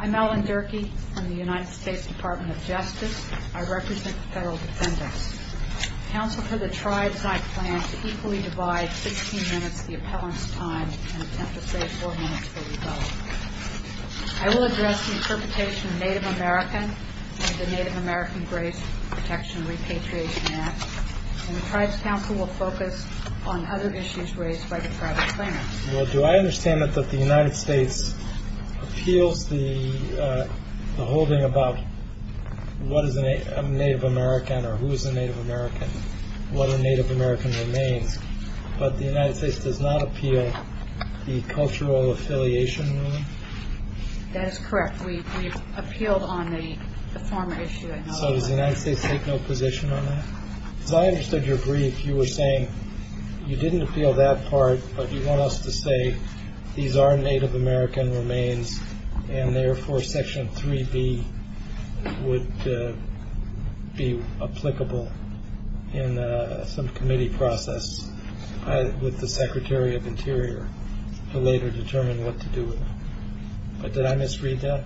I'm Ellen Durkee from the United States Department of Justice. I represent the federal defendants. Council for the Tribes and I plan to equally divide 16 minutes of the appellant's time and attempt to save 4 minutes for rebuttal. I will address the interpretation of Native American and the Native American Grace Protection Repatriation Act and the Tribes Council will focus on other issues raised by the tribal claimants. Well, do I understand that the United States appeals the holding about what is a Native American or who is a Native American, what a Native American remains, but the United States does not appeal the cultural affiliation ruling? That is correct. We appealed on the former issue. So does the United States take no position on that? As I understood your brief, you were saying you didn't appeal that part, but you want us to say these are Native American remains and, therefore, Section 3B would be applicable in some committee process with the Secretary of Interior to later determine what to do with them. But did I misread that?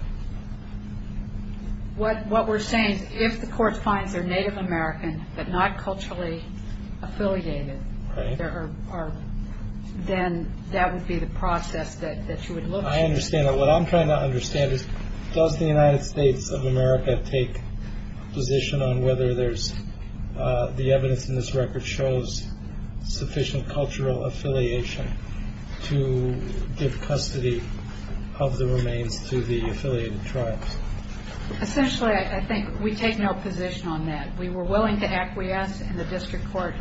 What we're saying is if the court finds they're Native American but not culturally affiliated, then that would be the process that you would look for. I understand that. What I'm trying to understand is does the United States of America take position on whether the evidence in this record shows sufficient cultural affiliation to give custody of the remains to the affiliated tribes? Essentially, I think we take no position on that. We were willing to acquiesce in the district court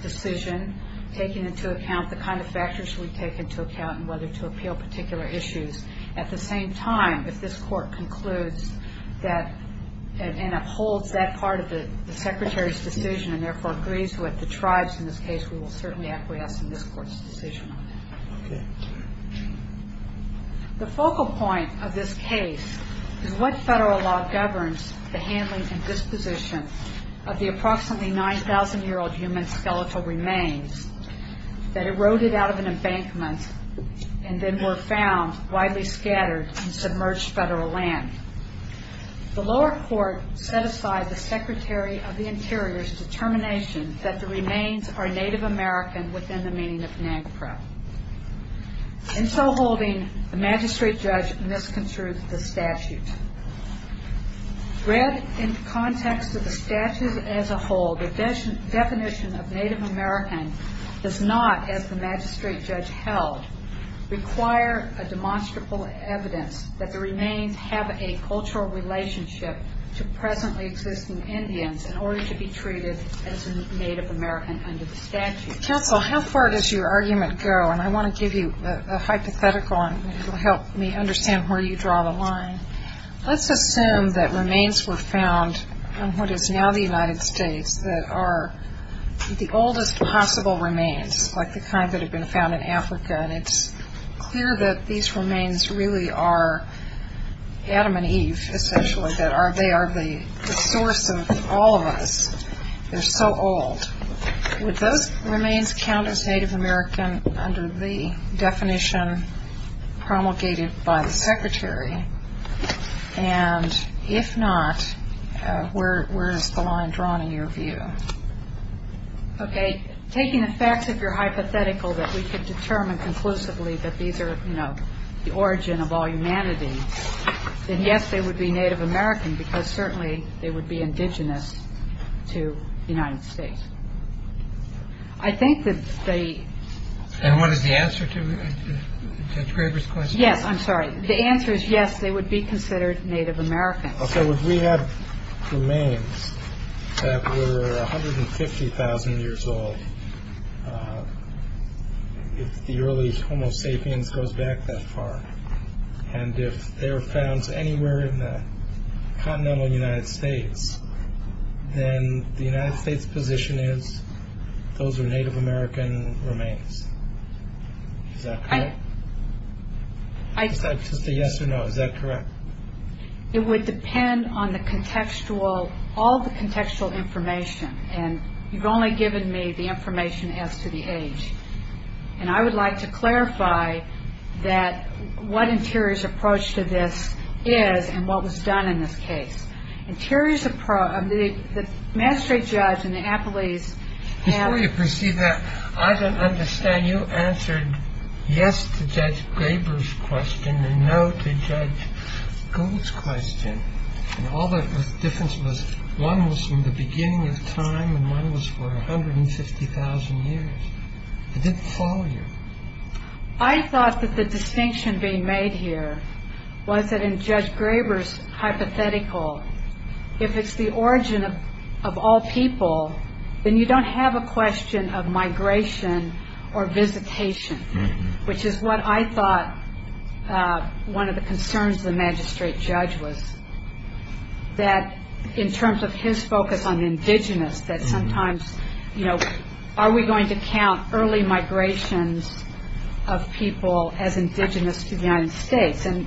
decision, taking into account the kind of factors we take into account and whether to appeal particular issues. At the same time, if this court concludes and upholds that part of the Secretary's decision and, therefore, agrees with the tribes in this case, we will certainly acquiesce in this court's decision on that. The focal point of this case is what federal law governs the handling and disposition of the approximately 9,000-year-old human skeletal remains that eroded out of an embankment and then were found widely scattered in submerged federal land. The lower court set aside the Secretary of the Interior's determination that the remains are Native American within the meaning of NAGPRA. In so holding, the magistrate judge misconstrued the statute. Read in context of the statute as a whole, the definition of Native American does not, as the magistrate judge held, require a demonstrable evidence that the remains have a cultural relationship to presently existing Indians in order to be treated as Native American under the statute. Counsel, how far does your argument go? And I want to give you a hypothetical, and it will help me understand where you draw the line. Let's assume that remains were found in what is now the United States that are the oldest possible remains, like the kind that had been found in Africa and it's clear that these remains really are Adam and Eve, essentially, that they are the source of all of us. They're so old. Would those remains count as Native American under the definition promulgated by the Secretary? And if not, where is the line drawn in your view? Okay. Taking the facts, if you're hypothetical, that we could determine conclusively that these are, you know, the origin of all humanity, then yes, they would be Native American because certainly they would be indigenous to the United States. I think that they... And what is the answer to Judge Graber's question? Yes, I'm sorry. The answer is yes, they would be considered Native American. I'll say, would we have remains that were 150,000 years old if the early Homo sapiens goes back that far, and if they were found anywhere in the continental United States, then the United States' position is those are Native American remains. Is that correct? Just a yes or no, is that correct? It would depend on the contextual, all the contextual information, and you've only given me the information as to the age. And I would like to clarify that what Interior's approach to this is and what was done in this case. Interior's approach... The magistrate judge and the appellees have... Before you proceed that, I don't understand. When you answered yes to Judge Graber's question and no to Judge Gould's question, and all the difference was one was from the beginning of time and one was for 150,000 years, it didn't follow you. I thought that the distinction being made here was that in Judge Graber's hypothetical, if it's the origin of all people, then you don't have a question of migration or visitation, which is what I thought one of the concerns of the magistrate judge was, that in terms of his focus on indigenous, that sometimes, you know, are we going to count early migrations of people as indigenous to the United States? And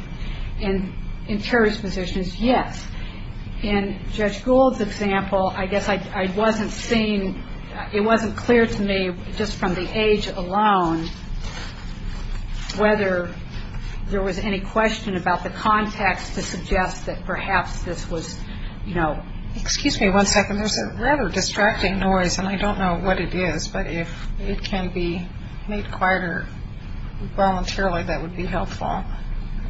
Interior's position is yes. In Judge Gould's example, I guess I wasn't seeing... It wasn't clear to me just from the age alone whether there was any question about the context to suggest that perhaps this was, you know... Excuse me one second. There's a rather distracting noise, and I don't know what it is, but if it can be made quieter voluntarily, that would be helpful.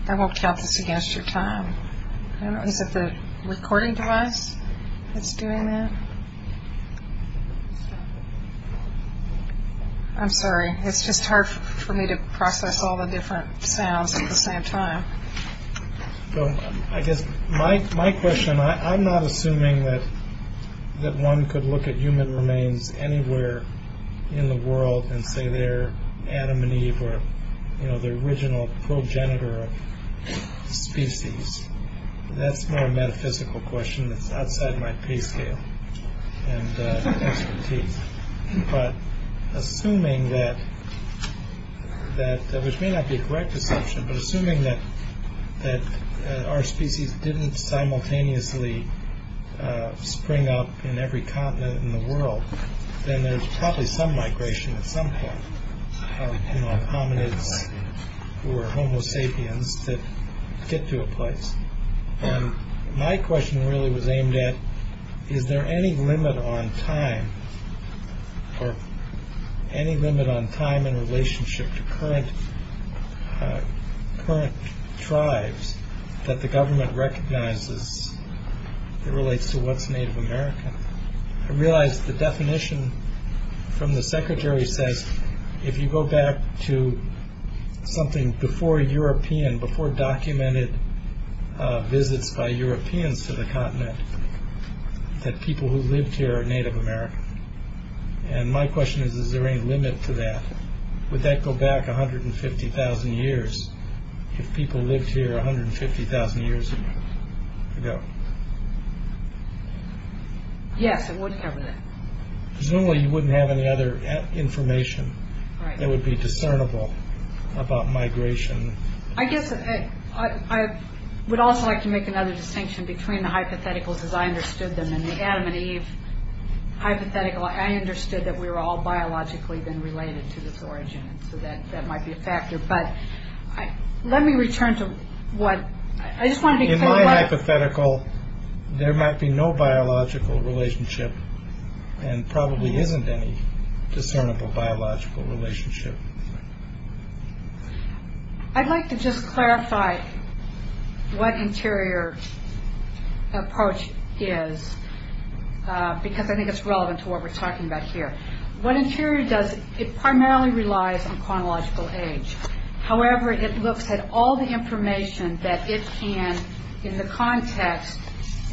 I won't count this against your time. I don't know. Is it the recording device that's doing that? I'm sorry. It's just hard for me to process all the different sounds at the same time. So I guess my question, I'm not assuming that one could look at human remains anywhere in the world and say they're Adam and Eve or, you know, the original progenitor of species. That's more a metaphysical question that's outside my pay scale and expertise. But assuming that, which may not be a correct assumption, but assuming that our species didn't simultaneously spring up in every continent in the world, then there's probably some migration at some point of hominids or homo sapiens that get to a place. And my question really was aimed at is there any limit on time or any limit on time in relationship to current tribes that the government recognizes that relates to what's Native American? I realize the definition from the secretary says that if you go back to something before European, before documented visits by Europeans to the continent, that people who lived here are Native American. And my question is, is there any limit to that? Would that go back 150,000 years if people lived here 150,000 years ago? Yes, it would have. Presumably you wouldn't have any other information that would be discernible about migration. I guess I would also like to make another distinction between the hypotheticals as I understood them and the Adam and Eve hypothetical. I understood that we were all biologically then related to this origin. So that might be a factor. But let me return to what I just want to be clear about. In the hypothetical, there might be no biological relationship and probably isn't any discernible biological relationship. I'd like to just clarify what interior approach is because I think it's relevant to what we're talking about here. What interior does, it primarily relies on chronological age. However, it looks at all the information that it can in the context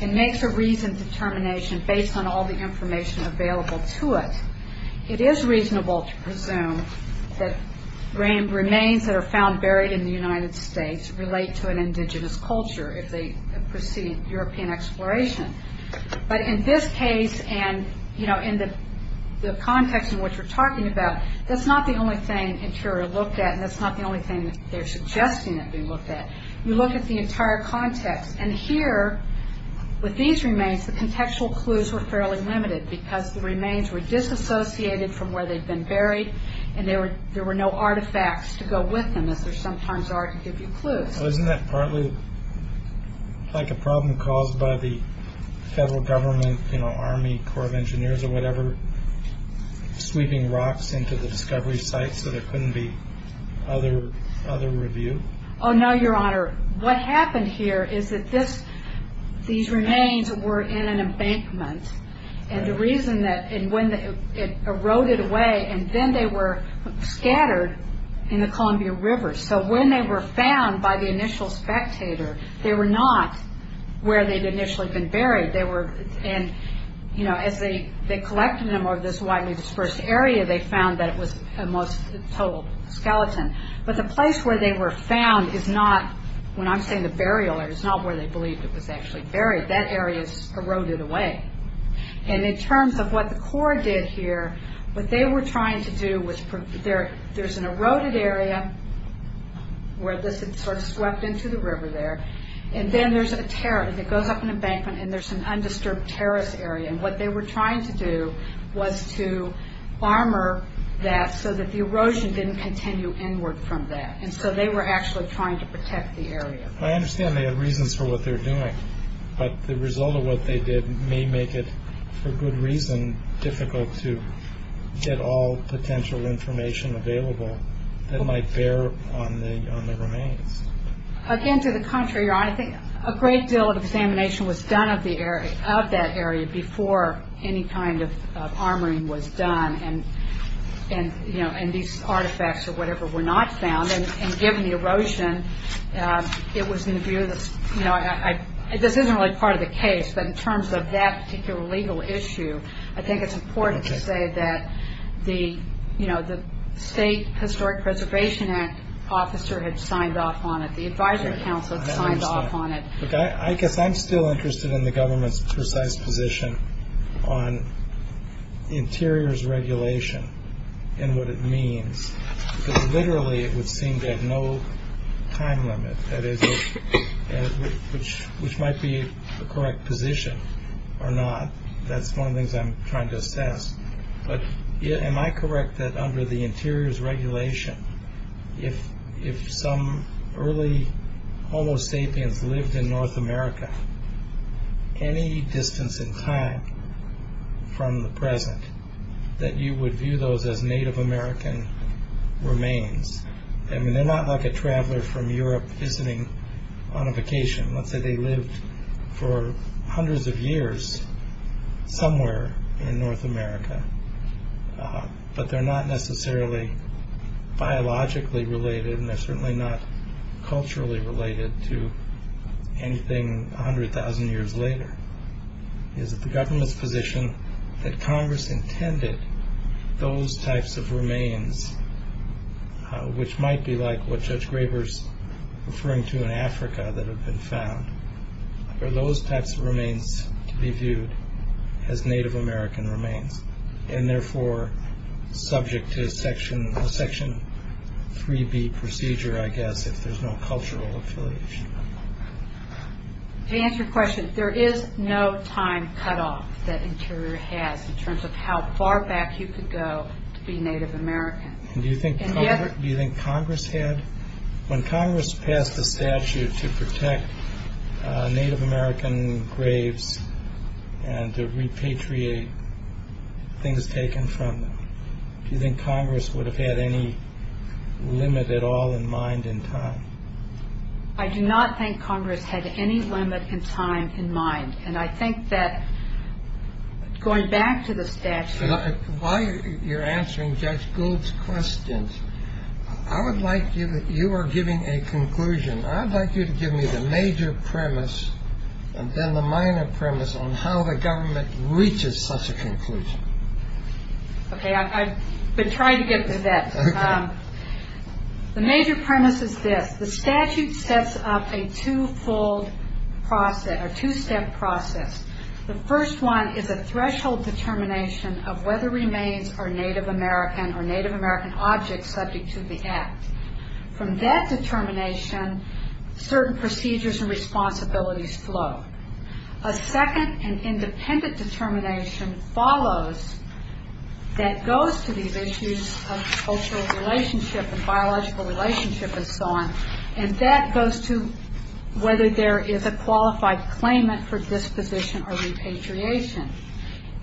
and makes a reasoned determination based on all the information available to it. It is reasonable to presume that remains that are found buried in the United States relate to an indigenous culture if they precede European exploration. But in this case and in the context in which we're talking about, that's not the only thing interior looked at and that's not the only thing they're suggesting that be looked at. You look at the entire context. And here with these remains, the contextual clues were fairly limited because the remains were disassociated from where they'd been buried and there were no artifacts to go with them as there sometimes are to give you clues. Isn't that partly like a problem caused by the federal government, Army Corps of Engineers or whatever, sweeping rocks into the discovery sites so there couldn't be other review? Oh no, Your Honor. What happened here is that these remains were in an embankment. And the reason that when it eroded away, and then they were scattered in the Columbia River. So when they were found by the initial spectator, they were not where they'd initially been buried. And as they collected them over this widely dispersed area, they found that it was a total skeleton. But the place where they were found is not, when I'm saying the burial area, it's not where they believed it was actually buried. That area's eroded away. And in terms of what the Corps did here, what they were trying to do was, there's an eroded area where this had sort of swept into the river there. And then there's a tear that goes up an embankment and there's an undisturbed terrace area. And what they were trying to do was to armor that so that the erosion didn't continue inward from that. And so they were actually trying to protect the area. I understand they had reasons for what they were doing. But the result of what they did may make it, for good reason, difficult to get all potential information available that might bear on the remains. Again, to the contrary, Your Honor. I think a great deal of examination was done of that area before any kind of armoring was done. And these artifacts or whatever were not found. And given the erosion, it was in the view that, this isn't really part of the case, but in terms of that particular legal issue, I think it's important to say that the State Historic Preservation Act officer had signed off on it. The Advisory Council had signed off on it. I guess I'm still interested in the government's precise position on interiors regulation and what it means. Because literally it would seem to have no time limit, that is, which might be the correct position or not. That's one of the things I'm trying to assess. But am I correct that under the interiors regulation, if some early homo sapiens lived in North America, any distance in time from the present, that you would view those as Native American remains? I mean, they're not like a traveler from Europe visiting on a vacation. Let's say they lived for hundreds of years somewhere in North America, but they're not necessarily biologically related and they're certainly not culturally related to anything 100,000 years later. Is it the government's position that Congress intended those types of remains, which might be like what Judge Graber's referring to in Africa that have been found, are those types of remains to be viewed as Native American remains and therefore subject to Section 3B procedure, I guess, if there's no cultural affiliation? To answer your question, there is no time cutoff that interior has in terms of how far back you could go to be Native American. Do you think Congress had? When Congress passed the statute to protect Native American graves and to repatriate things taken from them, do you think Congress would have had any limit at all in mind in time? I do not think Congress had any limit in time in mind, and I think that going back to the statute. While you're answering Judge Gould's questions, I would like you to give me the major premise and then the minor premise on how the government reaches such a conclusion. Okay, I've been trying to get to that. The major premise is this. The statute sets up a two-step process. The first one is a threshold determination of whether remains are Native American or Native American objects subject to the act. From that determination, certain procedures and responsibilities flow. A second and independent determination follows that goes to these issues of cultural relationship and biological relationship and so on, and that goes to whether there is a qualified claimant for disposition or repatriation.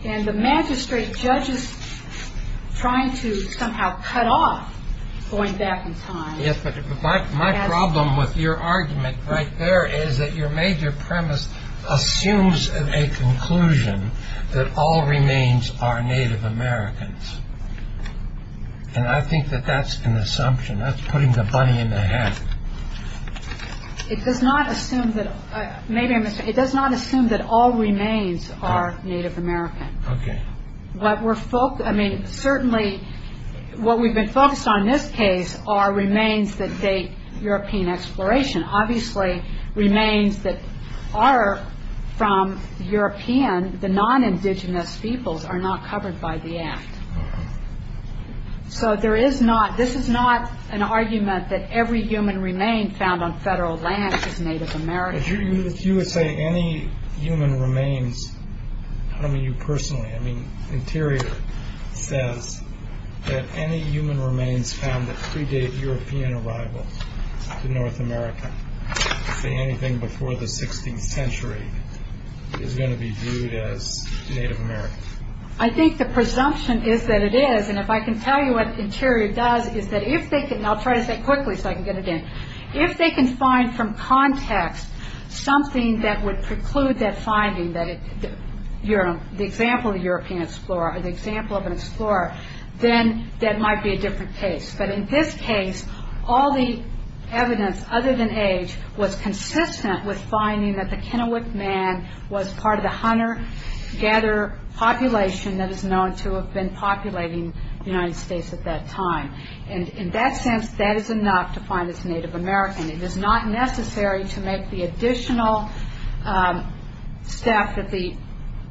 And the magistrate judges trying to somehow cut off going back in time. Yes, but my problem with your argument right there is that your major premise assumes a conclusion that all remains are Native Americans, and I think that that's an assumption. That's putting the bunny in the hat. It does not assume that all remains are Native American. Okay. I mean, certainly what we've been focused on in this case are remains that date European exploration. Obviously, remains that are from European, the non-indigenous peoples, are not covered by the act. So there is not, this is not an argument that every human remain found on federal land is Native American. If you would say any human remains, I don't mean you personally, I mean Interior says that any human remains found that predate European arrival to North America, say anything before the 16th century, is going to be viewed as Native American. I think the presumption is that it is, and if I can tell you what Interior does, is that if they can, and I'll try to say it quickly so I can get it in, if they can find from context something that would preclude that finding, the example of a European explorer or the example of an explorer, then that might be a different case. But in this case, all the evidence other than age was consistent with finding that the Kennewick Man was part of the hunter-gatherer population that is known to have been populating the United States at that time. And in that sense, that is enough to find it's Native American. It is not necessary to make the additional step that the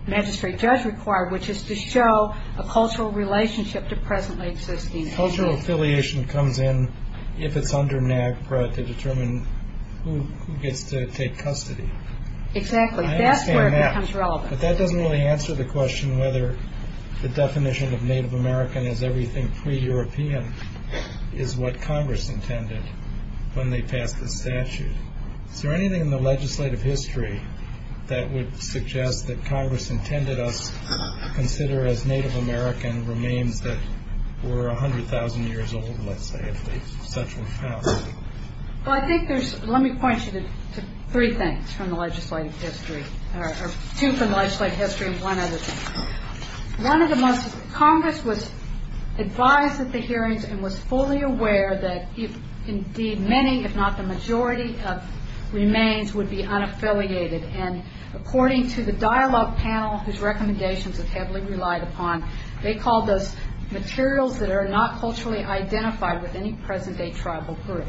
magistrate does require, which is to show a cultural relationship to presently existing issues. Cultural affiliation comes in if it's under NAGPRA to determine who gets to take custody. Exactly. That's where it becomes relevant. But that doesn't really answer the question whether the definition of Native American as everything pre-European is what Congress intended when they passed the statute. Is there anything in the legislative history that would suggest that Congress intended us to consider as Native American remains that were 100,000 years old, let's say, if such were found? Well, I think there's... Let me point you to three things from the legislative history, or two from the legislative history and one other thing. One of the most... Congress was advised at the hearings and was fully aware that indeed many, if not the majority, of remains would be unaffiliated. And according to the dialogue panel, whose recommendations it heavily relied upon, they called those materials that are not culturally identified with any present-day tribal group.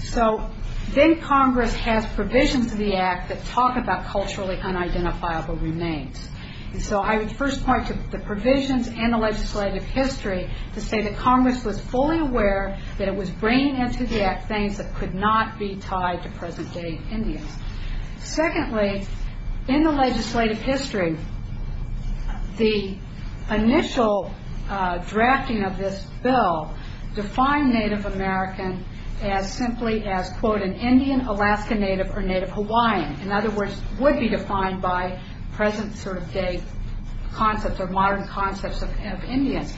So then Congress has provisions of the Act that talk about culturally unidentifiable remains. And so I would first point to the provisions and the legislative history to say that Congress was fully aware that it was bringing into the Act things that could not be tied to present-day Indians. Secondly, in the legislative history, the initial drafting of this bill defined Native American as simply as, quote, an Indian, Alaska Native, or Native Hawaiian. In other words, would be defined by present-day concepts or modern concepts of Indians.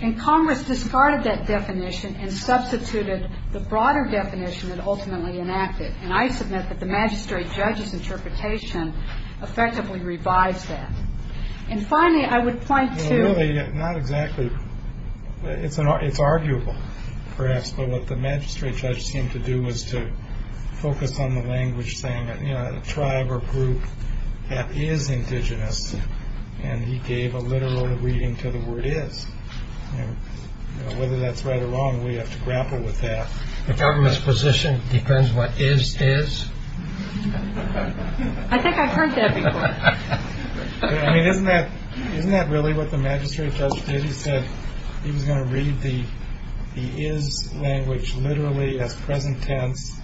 And Congress discarded that definition and substituted the broader definition that ultimately enacted. And I submit that the magistrate judge's interpretation effectively revised that. And finally, I would point to... Well, really, not exactly. It's arguable, perhaps, but what the magistrate judge seemed to do was to focus on the language saying that, you know, a tribe or group that is indigenous, and he gave a literal reading to the word is. And whether that's right or wrong, we have to grapple with that. The government's position depends what is is? I think I've heard that before. I mean, isn't that really what the magistrate judge did? He said he was going to read the is language literally as present tense,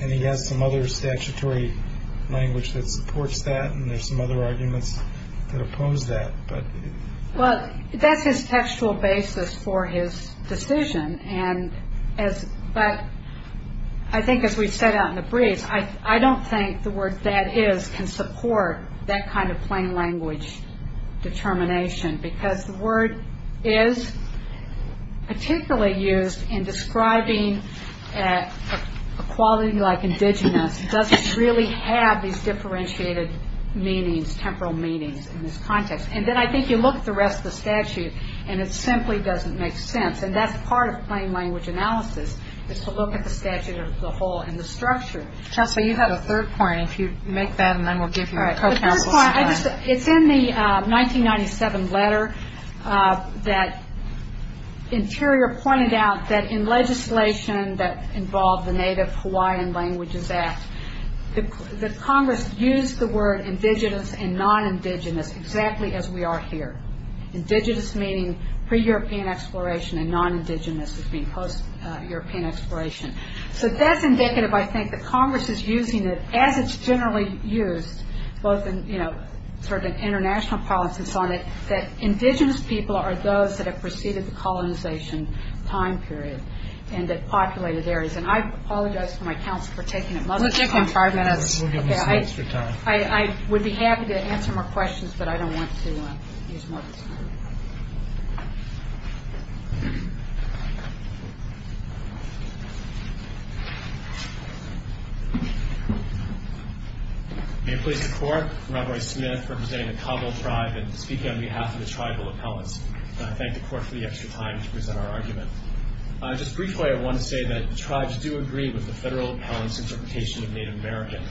and he has some other statutory language that supports that, and there's some other arguments that oppose that. Well, that's his textual basis for his decision. But I think as we've said out in the breeze, I don't think the word that is can support that kind of plain language determination because the word is particularly used in describing equality like indigenous. It doesn't really have these differentiated meanings, temporal meanings in this context. And then I think you look at the rest of the statute, and it simply doesn't make sense. And that's part of plain language analysis is to look at the statute as a whole and the structure. Trustee, you had a third point. If you make that, and then we'll give you a co-counsel's time. It's in the 1997 letter that Interior pointed out that in legislation that involved the Native Hawaiian Languages Act, the Congress used the word indigenous and non-indigenous exactly as we are here, indigenous meaning pre-European exploration and non-indigenous as being post-European exploration. So that's indicative, I think, that Congress is using it as it's generally used, both in sort of international politics on it, that indigenous people are those that have preceded the colonization time period and the populated areas. And I apologize to my counsel for taking it much longer than five minutes. We'll give them some extra time. I would be happy to answer more questions, but I don't want to use more of this time. May it please the Court, I'm Robert Smith representing the Cabo tribe and speaking on behalf of the tribal appellants. And I thank the Court for the extra time to present our argument. Just briefly, I want to say that the tribes do agree with the federal appellant's interpretation of Native American,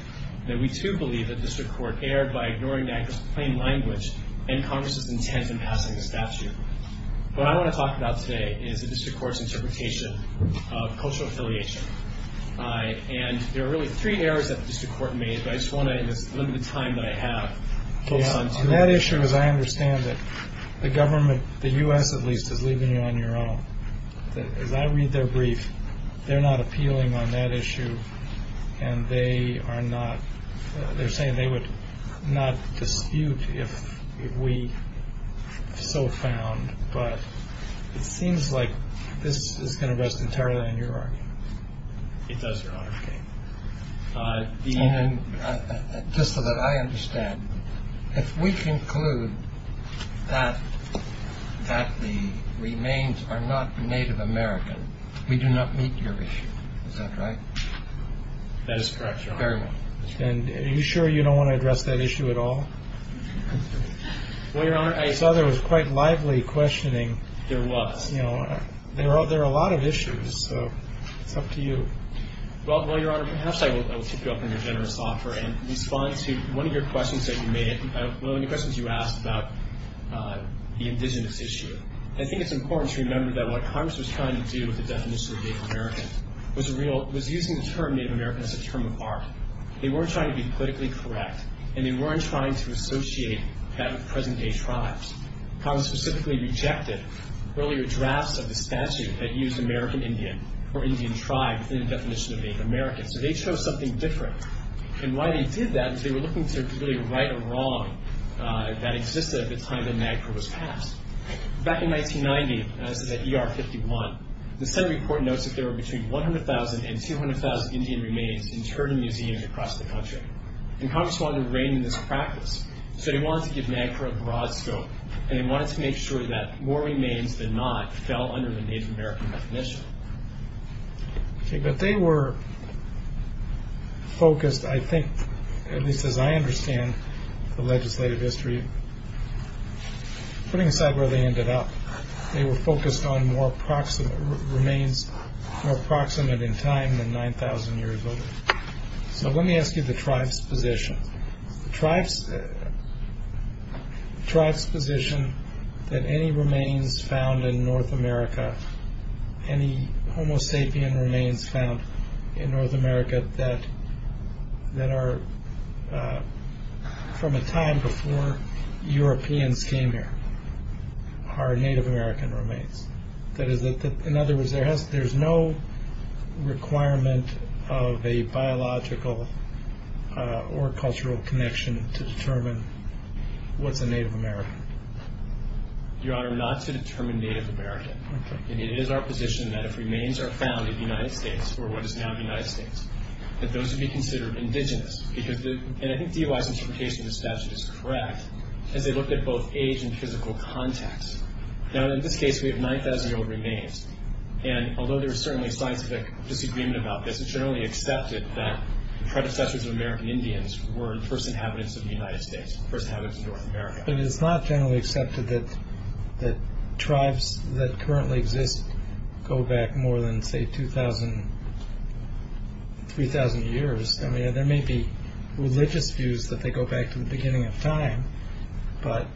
and we, too, believe that the District Court erred by ignoring that plain language and Congress's intent in passing the statute. What I want to talk about today is the District Court's interpretation of cultural affiliation. And there are really three errors that the District Court made, but I just want to limit the time that I have. On that issue, as I understand it, the government, the U.S. at least, is leaving you on your own. As I read their brief, they're not appealing on that issue, and they are saying they would not dispute if we so found. But it seems like this is going to rest entirely on your argument. It does, Your Honor. Just so that I understand, if we conclude that the remains are not Native American, we do not meet your issue. Is that right? That is correct, Your Honor. Very well. And are you sure you don't want to address that issue at all? Well, Your Honor, I saw there was quite lively questioning. There was. You know, there are a lot of issues, so it's up to you. Well, Your Honor, perhaps I will keep you up on your generous offer and respond to one of your questions that you made. One of the questions you asked about the indigenous issue. I think it's important to remember that what Congress was trying to do with the definition of Native American was using the term Native American as a term of art. They weren't trying to be politically correct, and they weren't trying to associate that with present-day tribes. Congress specifically rejected earlier drafts of the statute that used American Indian or Indian tribe in the definition of Native American. So they chose something different. And why they did that is they were looking to really right or wrong that existed at the time that NAGPRA was passed. Back in 1990, and this is at ER 51, the Senate report notes that there were between 100,000 and 200,000 Indian remains interred in museums across the country. And Congress wanted to rein in this practice. So they wanted to give NAGPRA a broad scope, and they wanted to make sure that more remains than not fell under the Native American definition. Okay, but they were focused, I think, at least as I understand the legislative history, putting aside where they ended up, they were focused on remains more proximate in time than 9,000 years old. So let me ask you the tribe's position. The tribe's position that any remains found in North America, any Homo sapien remains found in North America that are from a time before Europeans came here are Native American remains. That is, in other words, there's no requirement of a biological or cultural connection to determine what's a Native American. Your Honor, not to determine Native American. It is our position that if remains are found in the United States, or what is now the United States, that those would be considered indigenous. And I think DOI's interpretation of the statute is correct as they looked at both age and physical context. Now, in this case, we have 9,000-year-old remains, and although there is certainly scientific disagreement about this, it's generally accepted that predecessors of American Indians were first inhabitants of the United States, first inhabitants of North America. But it's not generally accepted that tribes that currently exist go back more than, say, 2,000, 3,000 years. I mean, there may be religious views that they go back to the beginning of time, but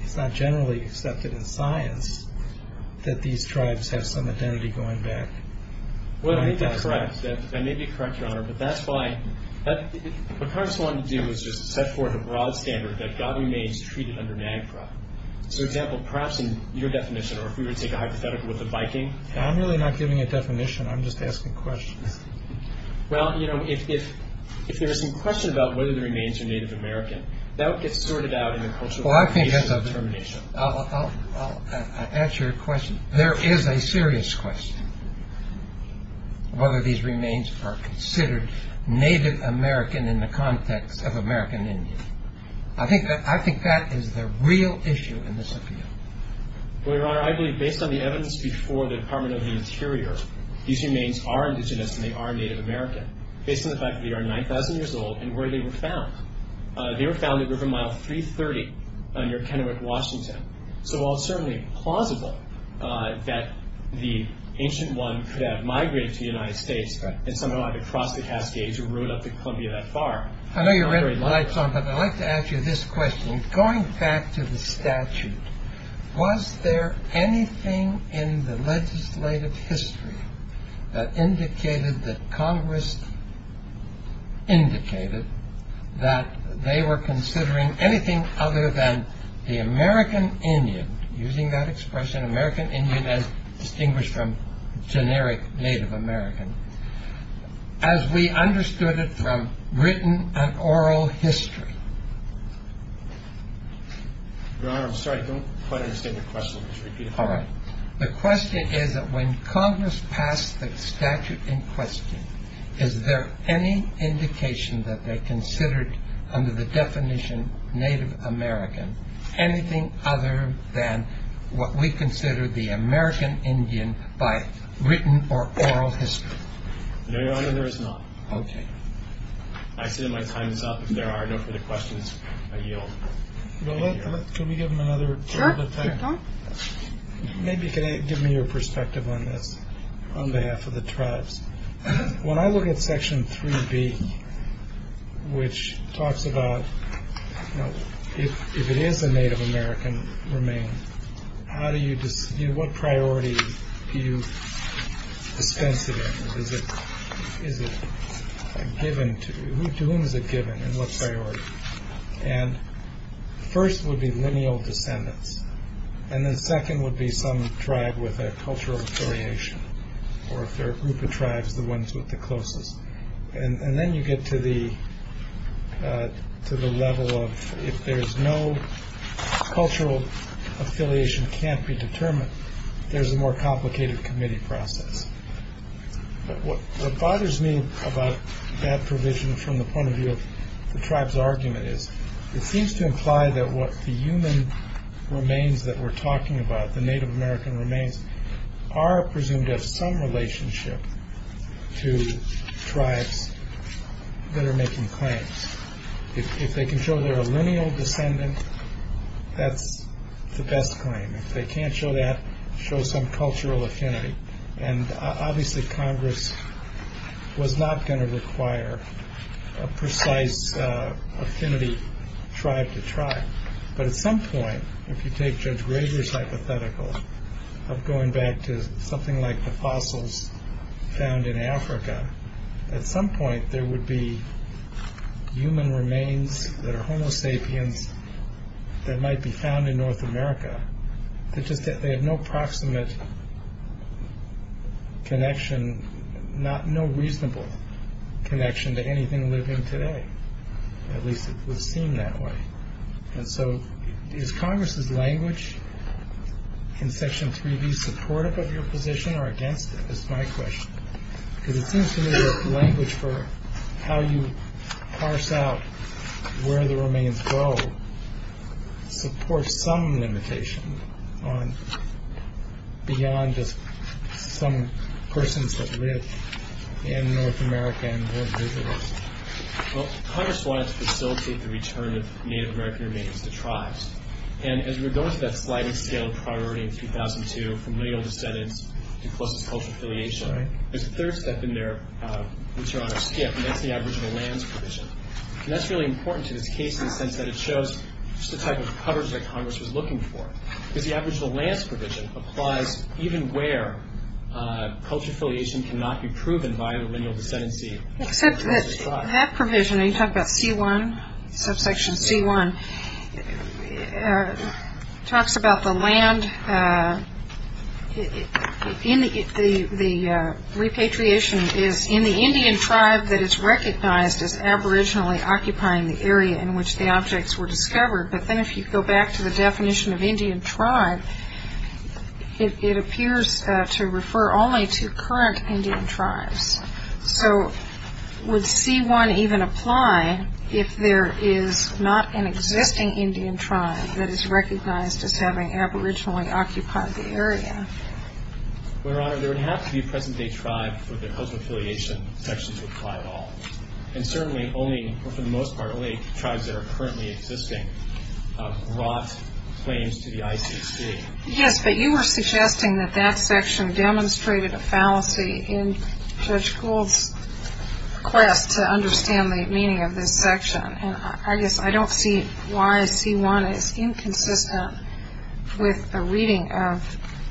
it's not generally accepted in science that these tribes have some identity going back. Well, I think that's correct. I may be correct, Your Honor, but that's why— what Congress wanted to do was just set forth a broad standard that godly remains treated under NAGPRA. So, for example, perhaps in your definition, or if we were to take a hypothetical with the Viking— I'm really not giving a definition. I'm just asking questions. Well, you know, if there is some question about whether the remains are Native American, that would get sorted out in the cultural— Well, I think that's a— —determination. I'll answer your question. There is a serious question, whether these remains are considered Native American in the context of American Indian. I think that is the real issue in this appeal. Well, Your Honor, I believe, based on the evidence before the Department of the Interior, these remains are indigenous and they are Native American, based on the fact that they are 9,000 years old and where they were found. They were found at River Mile 330 near Kennewick, Washington. So while it's certainly plausible that the ancient one could have migrated to the United States and somehow either crossed the Cascades or rode up to Columbia that far— I know you're already lights on, but I'd like to ask you this question. Going back to the statute, was there anything in the legislative history that indicated that Congress indicated that they were considering anything other than the American Indian— using that expression, American Indian as distinguished from generic Native American— as we understood it from written and oral history? Your Honor, I'm sorry. I don't quite understand your question. Could you repeat it? All right. The question is that when Congress passed the statute in question, is there any indication that they considered, under the definition Native American, anything other than what we consider the American Indian by written or oral history? No, Your Honor, there is not. Okay. I see that my time is up. If there are no further questions, I yield. Well, let—can we give them another— Sure. Maybe can you give me your perspective on this on behalf of the tribes? When I look at Section 3B, which talks about if it is a Native American remain, how do you—what priority do you dispense it in? Is it given to—to whom is it given, and what's the priority? And first would be lineal descendants, and then second would be some tribe with a cultural affiliation, or if they're a group of tribes, the ones with the closest. And then you get to the level of if there's no cultural affiliation can't be determined, there's a more complicated committee process. What bothers me about that provision from the point of view of the tribe's argument is it seems to imply that what the human remains that we're talking about, the Native American remains, are presumed to have some relationship to tribes that are making claims. If they can show they're a lineal descendant, that's the best claim. If they can't show that, show some cultural affinity. And obviously Congress was not going to require a precise affinity tribe to tribe. But at some point, if you take Judge Graber's hypothetical of going back to something like the fossils found in Africa, at some point there would be human remains that are Homo sapiens that might be found in North America. They're just—they have no proximate connection, no reasonable connection to anything living today. At least it would seem that way. And so is Congress's language in Section 3B supportive of your position or against it? That's my question. Because it seems to me that language for how you parse out where the remains go supports some limitation beyond just some persons that live in North America and North Asia. Well, Congress wanted to facilitate the return of Native American remains to tribes. And as we're going through that sliding scale of priority in 2002, from lineal descendants to closest cultural affiliation, there's a third step in there which you're on a skip, and that's the aboriginal lands provision. And that's really important to this case in the sense that it shows just the type of coverage that Congress was looking for. Because the aboriginal lands provision applies even where cultural affiliation cannot be proven by the lineal descendancy. Except that that provision, when you talk about C1, subsection C1, talks about the land—the repatriation is in the Indian tribe that is recognized as aboriginally occupying the area in which the objects were discovered. But then if you go back to the definition of Indian tribe, it appears to refer only to current Indian tribes. So would C1 even apply if there is not an existing Indian tribe that is recognized as having aboriginally occupied the area? Well, Your Honor, there would have to be a present-day tribe for the cultural affiliation section to apply at all. And certainly only—for the most part, only tribes that are currently existing brought claims to the ICC. Yes, but you were suggesting that that section demonstrated a fallacy in Judge Gould's quest to understand the meaning of this section. And I guess I don't see why C1 is inconsistent with the reading of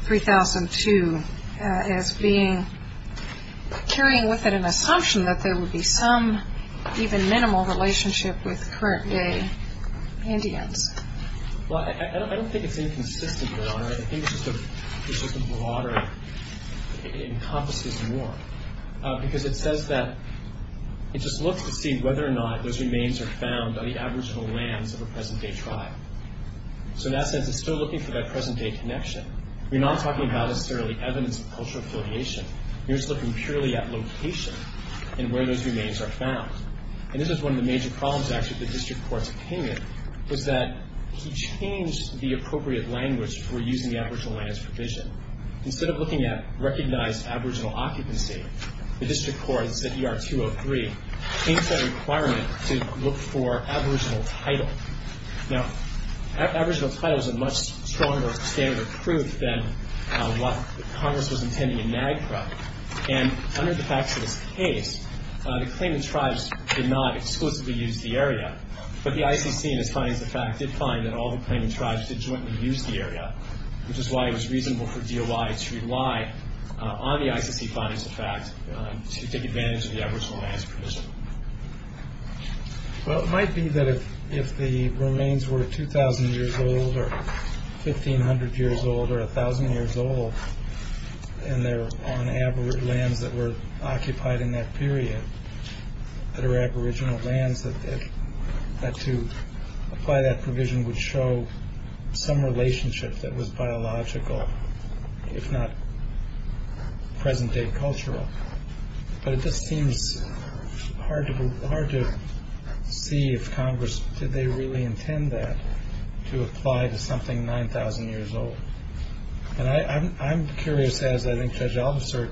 3002 as being—carrying with it an assumption that there would be some even minimal relationship with current-day Indians. Well, I don't think it's inconsistent, Your Honor. I think it's just a broader—it encompasses more. Because it says that—it just looks to see whether or not those remains are found on the aboriginal lands of a present-day tribe. So in that sense, it's still looking for that present-day connection. We're not talking about necessarily evidence of cultural affiliation. We're just looking purely at location and where those remains are found. And this is one of the major problems, actually, with the district court's opinion, was that he changed the appropriate language for using the aboriginal lands provision. Instead of looking at recognized aboriginal occupancy, the district court said ER203 changed that requirement to look for aboriginal title. Now, aboriginal title is a much stronger standard of proof than what Congress was intending in NAGPRA. And under the facts of this case, the claimant tribes did not exclusively use the area. But the ICC, in its findings, did find that all the claimant tribes did jointly use the area, which is why it was reasonable for DOI to rely on the ICC findings, in fact, to take advantage of the aboriginal lands provision. Well, it might be that if the remains were 2,000 years old or 1,500 years old or 1,000 years old and they're on lands that were occupied in that period that are aboriginal lands, that to apply that provision would show some relationship that was biological, if not present-day cultural. But it just seems hard to see if Congress did they really intend that, to apply to something 9,000 years old. And I'm curious, as I think Judge Albasert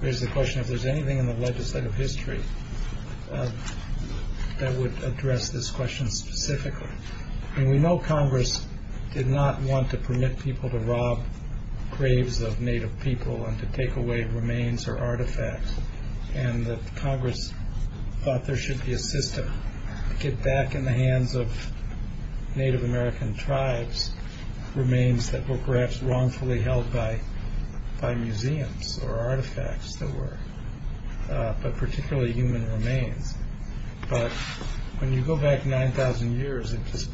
raised the question, if there's anything in the legislative history. that would address this question specifically. And we know Congress did not want to permit people to rob graves of Native people and to take away remains or artifacts, and that Congress thought there should be a system to get back in the hands of Native American tribes remains that were perhaps wrongfully held by museums or artifacts that were, but particularly human remains. But when you go back 9,000 years, it just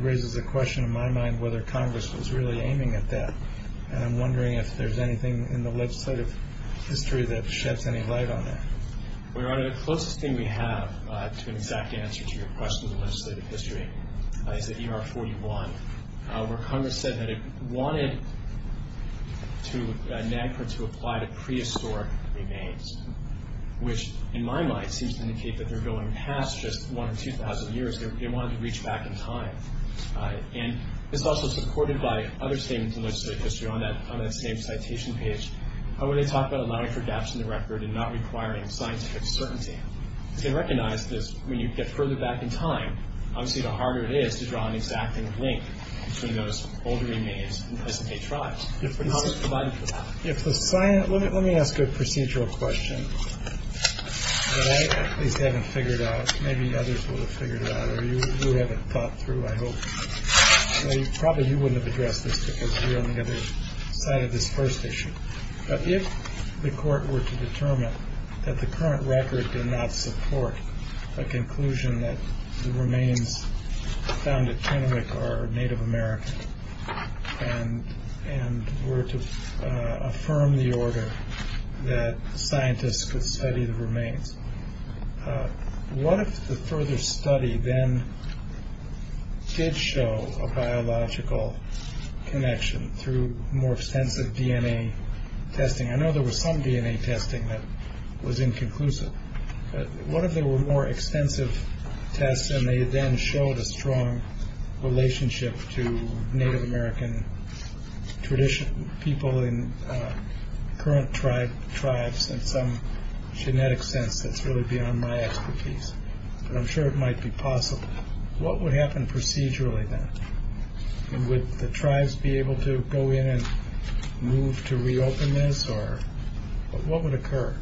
raises a question in my mind whether Congress was really aiming at that. And I'm wondering if there's anything in the legislative history that sheds any light on that. Well, Your Honor, the closest thing we have to an exact answer to your question in the legislative history is the ER-41, where Congress said that it wanted NAGPRA to apply to prehistoric remains, which, in my mind, seems to indicate that they're going past just 1,000 or 2,000 years. They wanted to reach back in time. And it's also supported by other statements in legislative history on that same citation page where they talk about allowing for gaps in the record and not requiring scientific certainty. They recognize that when you get further back in time, obviously the harder it is to draw an exacting link between those older remains and present-day tribes. How is it provided for that? Let me ask a procedural question that I at least haven't figured out. Maybe others would have figured it out, or you would have it thought through, I hope. Probably you wouldn't have addressed this because you're on the other side of this first issue. But if the court were to determine that the current record did not support a conclusion that the remains found at Chinook are Native American and were to affirm the order that scientists could study the remains, what if the further study then did show a biological connection through more extensive DNA testing? I know there was some DNA testing that was inconclusive. But what if there were more extensive tests and they then showed a strong relationship to Native American people in current tribes in some genetic sense that's really beyond my expertise? But I'm sure it might be possible. What would happen procedurally then? Would the tribes be able to go in and move to reopen this? What would occur?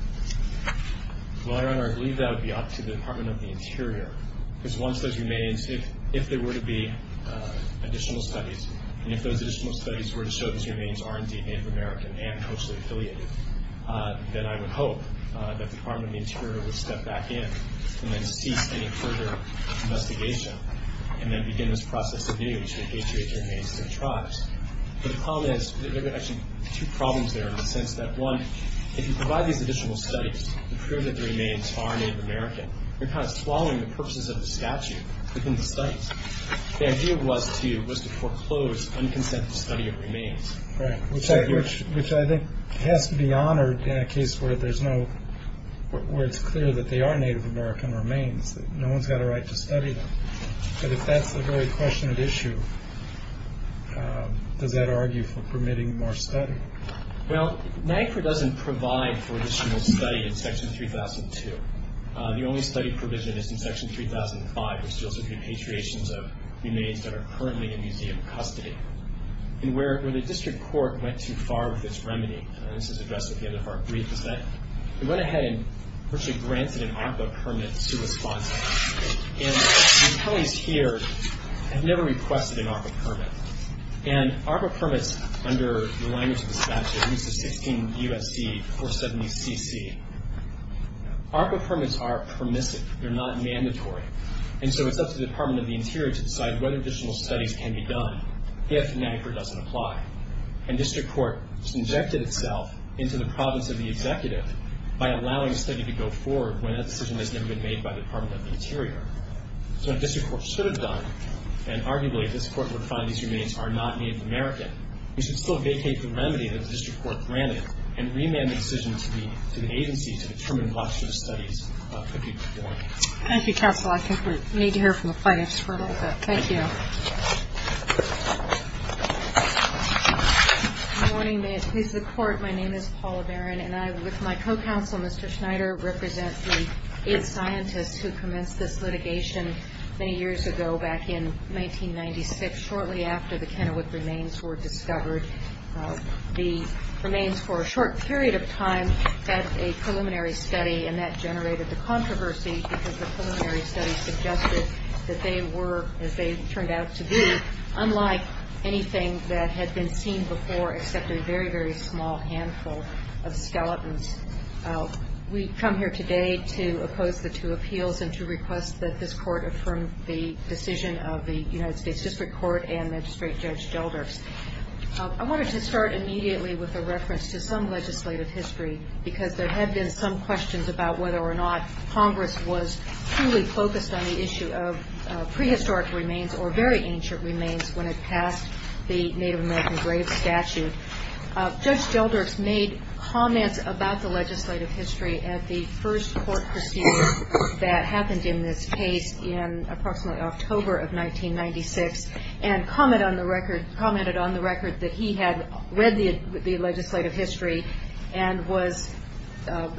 Well, Your Honor, I believe that would be up to the Department of the Interior because once those remains, if there were to be additional studies, and if those additional studies were to show those remains are indeed Native American and closely affiliated, then I would hope that the Department of the Interior would step back in and then cease any further investigation and then begin this process of DNA which would atriate the remains to the tribes. But the problem is, there are actually two problems there in the sense that, one, if you provide these additional studies to prove that the remains are Native American, you're kind of swallowing the purposes of the statute within the studies. The idea was to foreclose unconsented study of remains. Right, which I think has to be honored in a case where it's clear that they are Native American remains, that no one's got a right to study them. But if that's a very question of issue, does that argue for permitting more study? Well, NAGPRA doesn't provide for additional study in Section 3002. The only study provision is in Section 3005, which deals with repatriations of remains that are currently in museum custody. And where the district court went too far with this remedy, and this is addressed at the end of our brief, is that they went ahead and virtually granted an ARPA permit to respond to this. And the attorneys here have never requested an ARPA permit. And ARPA permits under the language of the statute, at least the 16 U.S.C. 470cc, ARPA permits are permissive. They're not mandatory. And so it's up to the Department of the Interior to decide whether additional studies can be done if NAGPRA doesn't apply. And district court injected itself into the province of the executive by allowing a study to go forward when that decision has never been made by the Department of the Interior. So what district court should have done, and arguably district court would find these remains are not Native American, we should still vacate the remedy that the district court granted and remand the decision to the agency to determine what sort of studies could be performed. Thank you, counsel. I think we need to hear from the plaintiffs for a little bit. Thank you. Good morning. May it please the Court, my name is Paula Barron, and I, with my co-counsel, Mr. Schneider, represent the aid scientist who commenced this litigation many years ago, back in 1996, shortly after the Kennewick remains were discovered. The remains, for a short period of time, had a preliminary study, and that generated the controversy because the preliminary study suggested that they were, as they turned out to be, unlike anything that had been seen before except a very, very small handful of skeletons. We come here today to oppose the two appeals and to request that this Court affirm the decision of the United States District Court and Magistrate Judge Gelders. I wanted to start immediately with a reference to some legislative history because there had been some questions about whether or not Congress was fully focused on the issue of prehistoric remains or very ancient remains when it passed the Native American grave statute. Judge Gelders made comments about the legislative history at the first court proceedings that happened in this case in approximately October of 1996 and commented on the record that he had read the legislative history and was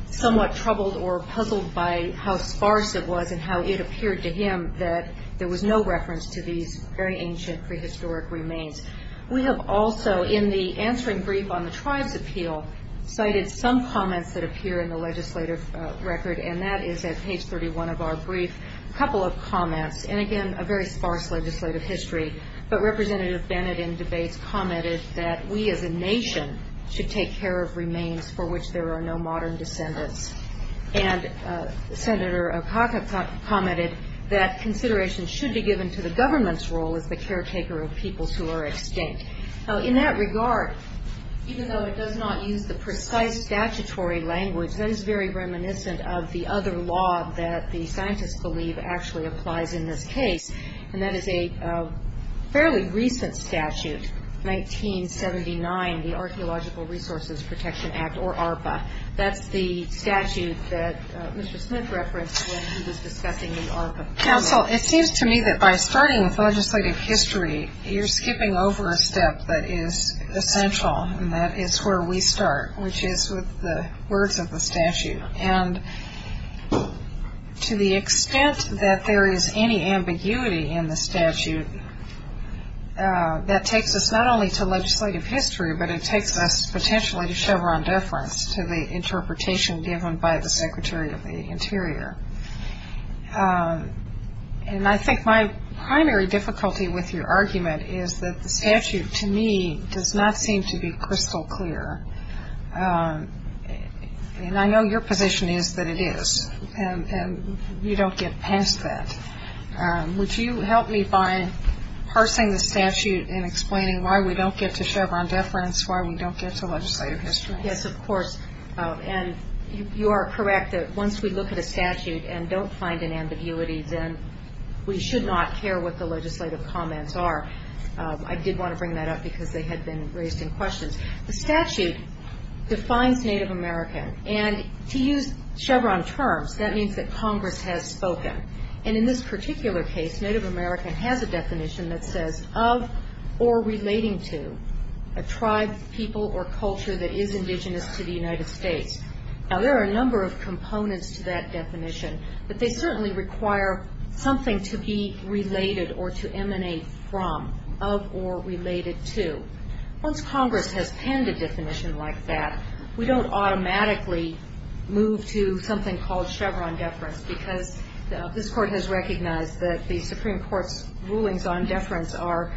somewhat troubled or puzzled by how sparse it was and how it appeared to him that there was no reference to these very ancient prehistoric remains. We have also, in the answering brief on the tribes appeal, cited some comments that appear in the legislative record, and that is at page 31 of our brief, a couple of comments, and again, a very sparse legislative history. But Representative Bennett, in debates, commented that we as a nation should take care of remains for which there are no modern descendants, and Senator Okaka commented that consideration should be given to the government's role as the caretaker of peoples who are extinct. In that regard, even though it does not use the precise statutory language, that is very reminiscent of the other law that the scientists believe actually applies in this case, and that is a fairly recent statute, 1979, the Archeological Resources Protection Act, or ARPA. That's the statute that Mr. Smith referenced when he was discussing the ARPA. Counsel, it seems to me that by starting with legislative history, you're skipping over a step that is essential, and that is where we start, which is with the words of the statute. And to the extent that there is any ambiguity in the statute, that takes us not only to legislative history, but it takes us potentially to Chevron deference, to the interpretation given by the Secretary of the Interior. And I think my primary difficulty with your argument is that the statute, to me, does not seem to be crystal clear, and I know your position is that it is, and we don't get past that. Would you help me by parsing the statute and explaining why we don't get to Chevron deference, why we don't get to legislative history? Yes, of course. And you are correct that once we look at a statute and don't find an ambiguity, then we should not care what the legislative comments are. I did want to bring that up because they had been raised in questions. The statute defines Native American, and to use Chevron terms, that means that Congress has spoken. And in this particular case, Native American has a definition that says, of or relating to a tribe, people, or culture that is indigenous to the United States. Now, there are a number of components to that definition, but they certainly require something to be related or to emanate from, of or related to. Once Congress has penned a definition like that, we don't automatically move to something called Chevron deference because this Court has recognized that the Supreme Court's rulings on deference are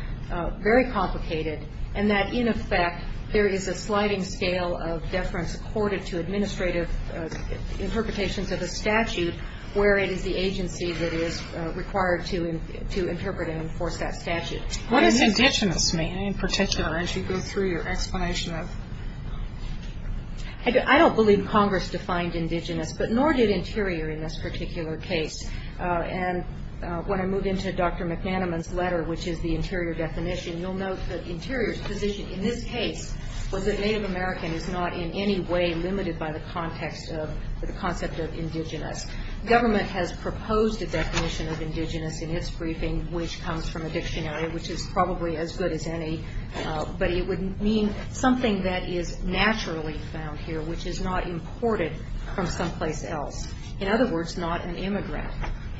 very complicated and that, in effect, there is a sliding scale of deference accorded to administrative interpretations of a statute where it is the agency that is required to interpret and enforce that statute. What does indigenous mean, in particular, as you go through your explanation of it? I don't believe Congress defined indigenous, but nor did Interior in this particular case. And when I move into Dr. McManaman's letter, which is the Interior definition, you'll note that Interior's position in this case was that Native American is not in any way limited by the context of the concept of indigenous. Government has proposed a definition of indigenous in its briefing, which comes from a dictionary, which is probably as good as any, but it would mean something that is naturally found here, which is not imported from someplace else. In other words, not an immigrant.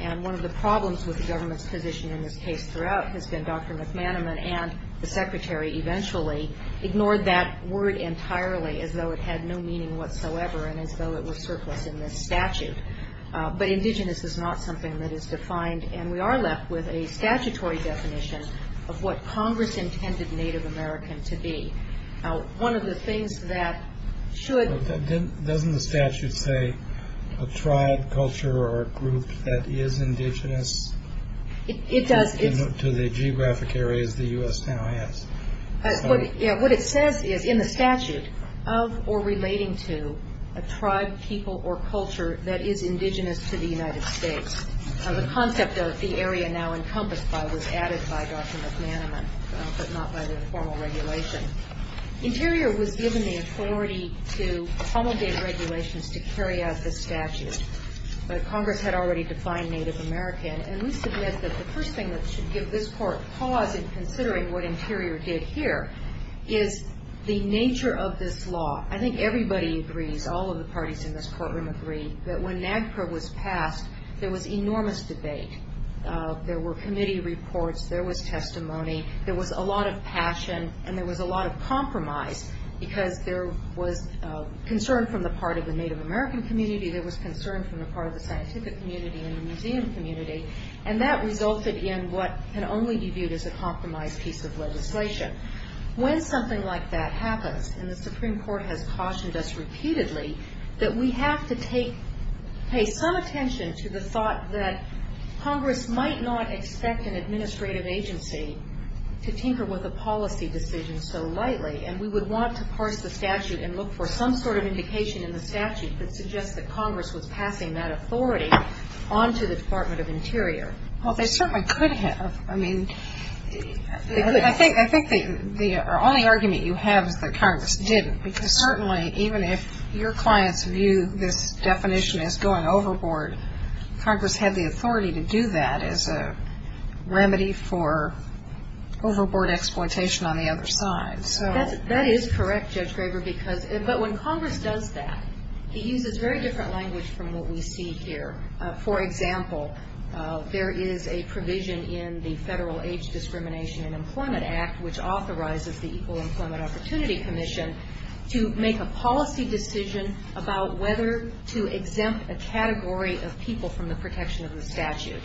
And one of the problems with the government's position in this case throughout has been Dr. McManaman and the Secretary eventually ignored that word entirely as though it had no meaning whatsoever and as though it was surplus in this statute. But indigenous is not something that is defined, and we are left with a statutory definition of what Congress intended Native American to be. Now, one of the things that should— Doesn't the statute say a tribe, culture, or group that is indigenous? It does. To the geographic areas the U.S. now has. What it says is, in the statute, of or relating to a tribe, people, or culture that is indigenous to the United States. The concept of the area now encompassed by was added by Dr. McManaman, but not by the informal regulation. Interior was given the authority to promulgate regulations to carry out this statute, but Congress had already defined Native American, and we submit that the first thing that should give this Court pause in considering what Interior did here is the nature of this law. I think everybody agrees, all of the parties in this courtroom agree, that when NAGPRA was passed, there was enormous debate. There were committee reports. There was testimony. There was a lot of passion, and there was a lot of compromise, because there was concern from the part of the Native American community. There was concern from the part of the scientific community and the museum community, and that resulted in what can only be viewed as a compromised piece of legislation. When something like that happens, and the Supreme Court has cautioned us repeatedly, that we have to pay some attention to the thought that Congress might not expect an administrative agency to tinker with a policy decision so lightly, and we would want to parse the statute and look for some sort of indication in the statute that suggests that Congress was passing that authority on to the Department of Interior. Well, they certainly could have. I mean, I think the only argument you have is that Congress didn't, because certainly even if your clients view this definition as going overboard, Congress had the authority to do that as a remedy for overboard exploitation on the other side. That is correct, Judge Graber, but when Congress does that, he uses very different language from what we see here. For example, there is a provision in the Federal Age Discrimination and Employment Act, which authorizes the Equal Employment Opportunity Commission to make a policy decision about whether to exempt a category of people from the protection of the statute.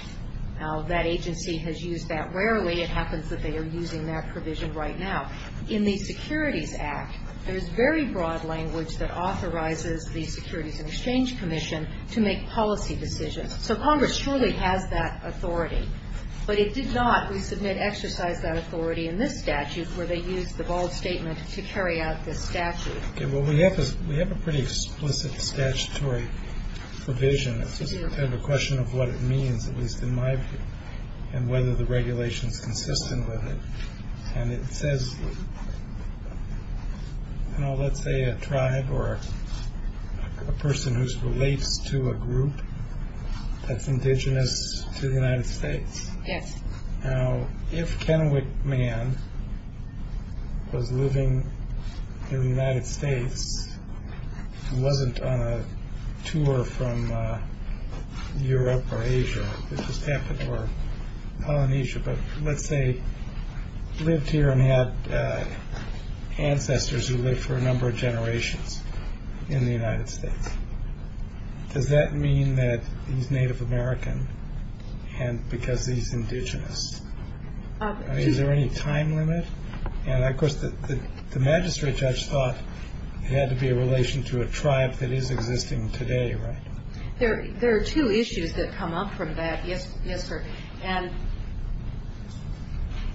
Now, that agency has used that rarely. It happens that they are using that provision right now. In the Securities Act, there is very broad language that authorizes the Securities and Exchange Commission to make policy decisions. So Congress surely has that authority. But it did not, we submit, exercise that authority in this statute, where they used the bold statement to carry out this statute. Okay, well, we have a pretty explicit statutory provision. It's just kind of a question of what it means, at least in my view, and whether the regulation is consistent with it. And it says, you know, let's say a tribe or a person who relates to a group that's indigenous to the United States. Yes. Now, if Kennewick Man was living in the United States and wasn't on a tour from Europe or Asia, it just happened, or Polynesia, but let's say lived here and had ancestors who lived for a number of generations in the United States. Does that mean that he's Native American because he's indigenous? Is there any time limit? And, of course, the magistrate judge thought it had to be a relation to a tribe that is existing today, right? There are two issues that come up from that, yes, sir. And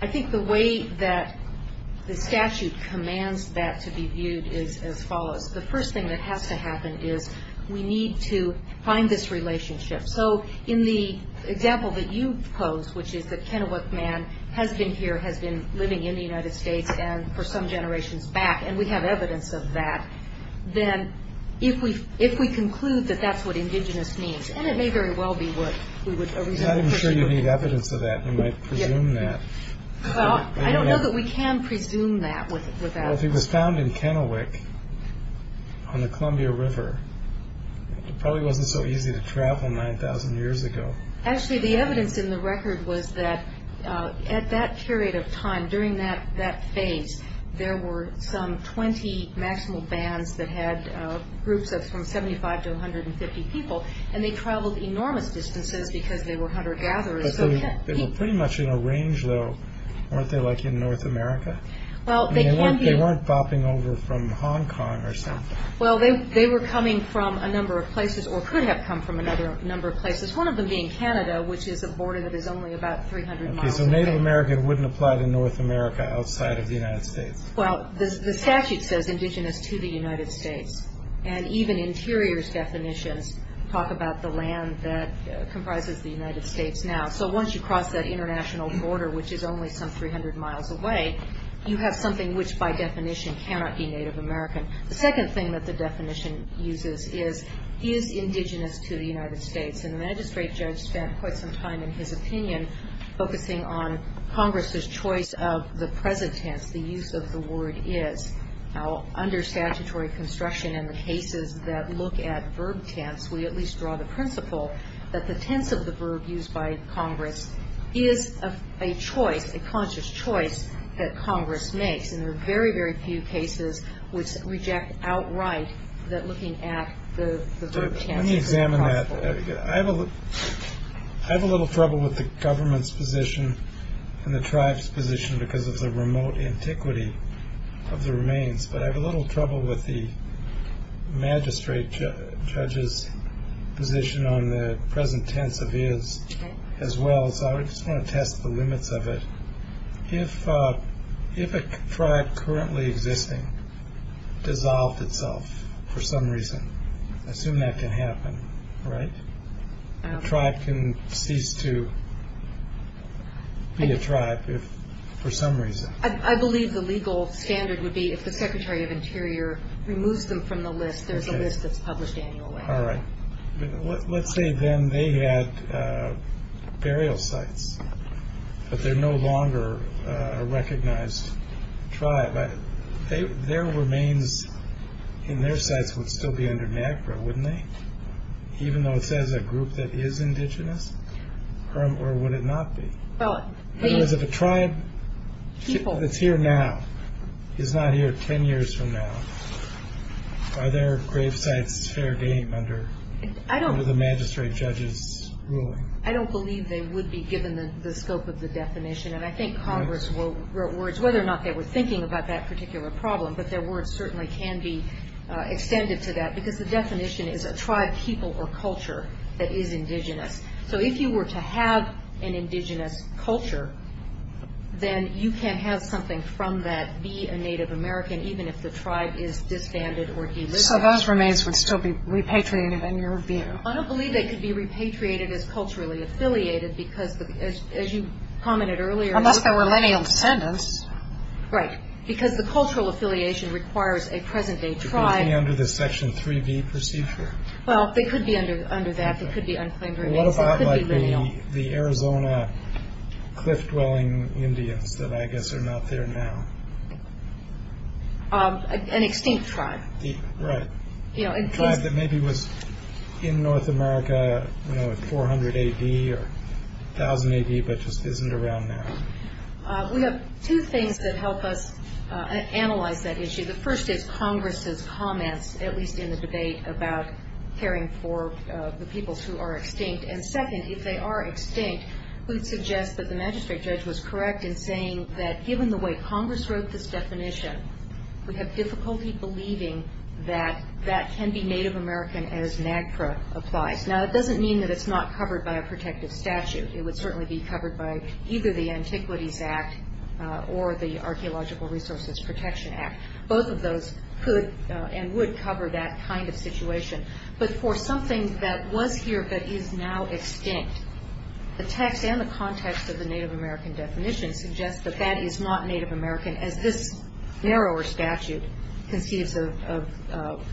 I think the way that the statute commands that to be viewed is as follows. The first thing that has to happen is we need to find this relationship. So in the example that you posed, which is that Kennewick Man has been here, has been living in the United States, and for some generations back, and we have evidence of that, then if we conclude that that's what indigenous means, and it may very well be what we would originally presume. I'm sure you need evidence of that. You might presume that. Well, I don't know that we can presume that. Well, if he was found in Kennewick on the Columbia River, it probably wasn't so easy to travel 9,000 years ago. Actually, the evidence in the record was that at that period of time, during that phase, there were some 20 national bands that had groups of from 75 to 150 people, and they traveled enormous distances because they were hunter-gatherers. But they were pretty much in a range, though, weren't they, like in North America? Well, they can be. They weren't bopping over from Hong Kong or something. Well, they were coming from a number of places, or could have come from another number of places, one of them being Canada, which is a border that is only about 300 miles away. Okay, so Native American wouldn't apply to North America outside of the United States. Well, the statute says indigenous to the United States, and even interiors definitions talk about the land that comprises the United States now. So once you cross that international border, which is only some 300 miles away, you have something which by definition cannot be Native American. The second thing that the definition uses is is indigenous to the United States, and the magistrate judge spent quite some time in his opinion focusing on Congress's choice of the present tense, the use of the word is. Now, under statutory construction and the cases that look at verb tense, we at least draw the principle that the tense of the verb used by Congress is a choice, a conscious choice that Congress makes, and there are very, very few cases which reject outright that looking at the verb tense is possible. Let me examine that. I have a little trouble with the government's position and the tribe's position because of the remote antiquity of the remains, but I have a little trouble with the magistrate judge's position on the present tense of is as well, so I just want to test the limits of it. If a tribe currently existing dissolved itself for some reason, I assume that can happen, right? A tribe can cease to be a tribe for some reason. I believe the legal standard would be if the Secretary of Interior removes them from the list, there's a list that's published annually. All right. Let's say then they had burial sites, but they're no longer a recognized tribe. Their remains in their sites would still be under NAGPRA, wouldn't they, even though it says a group that is indigenous, or would it not be? In other words, if a tribe that's here now is not here 10 years from now, are their grave sites fair game under the magistrate judge's ruling? I don't believe they would be given the scope of the definition, and I think Congress wrote words whether or not they were thinking about that particular problem, but their words certainly can be extended to that because the definition is a tribe, people, or culture that is indigenous. So if you were to have an indigenous culture, then you can have something from that, be a Native American, even if the tribe is disbanded or delisted. So those remains would still be repatriated in your view? I don't believe they could be repatriated as culturally affiliated because, as you commented earlier. Unless there were lenient sentence. Right. Because the cultural affiliation requires a present-day tribe. Could they be under the Section 3B procedure? Well, they could be under that. They could be unclaimed remains. They could be lineal. What about like the Arizona cliff-dwelling Indians that I guess are not there now? An extinct tribe. Right. A tribe that maybe was in North America, you know, at 400 A.D. or 1,000 A.D. but just isn't around now. We have two things that help us analyze that issue. The first is Congress's comments, at least in the debate, about caring for the people who are extinct. And second, if they are extinct, we'd suggest that the magistrate judge was correct in saying that given the way Congress wrote this definition, we have difficulty believing that that can be Native American as NAGPRA applies. Now, that doesn't mean that it's not covered by a protective statute. It would certainly be covered by either the Antiquities Act or the Archaeological Resources Protection Act. Both of those could and would cover that kind of situation. But for something that was here but is now extinct, the text and the context of the Native American definition suggests that that is not Native American as this narrower statute conceives of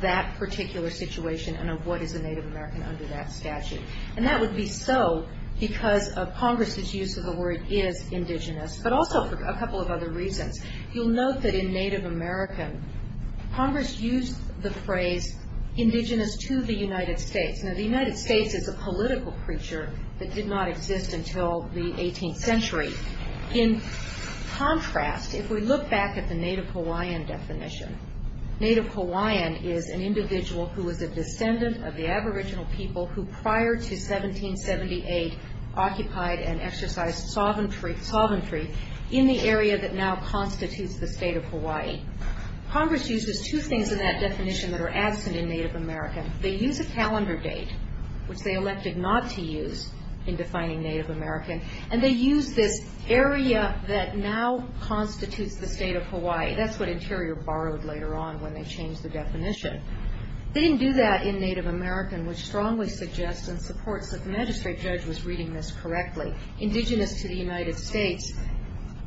that particular situation and of what is a Native American under that statute. And that would be so because of Congress's use of the word is indigenous, but also for a couple of other reasons. You'll note that in Native American, Congress used the phrase indigenous to the United States. Now, the United States is a political creature that did not exist until the 18th century. In contrast, if we look back at the Native Hawaiian definition, Native Hawaiian is an individual who is a descendant of the aboriginal people who prior to 1778 occupied and exercised sovereignty in the area that now constitutes the state of Hawaii. Congress uses two things in that definition that are absent in Native American. They use a calendar date, which they elected not to use in defining Native American, and they use this area that now constitutes the state of Hawaii. That's what Interior borrowed later on when they changed the definition. They didn't do that in Native American, which strongly suggests and supports that the magistrate judge was reading this correctly. Indigenous to the United States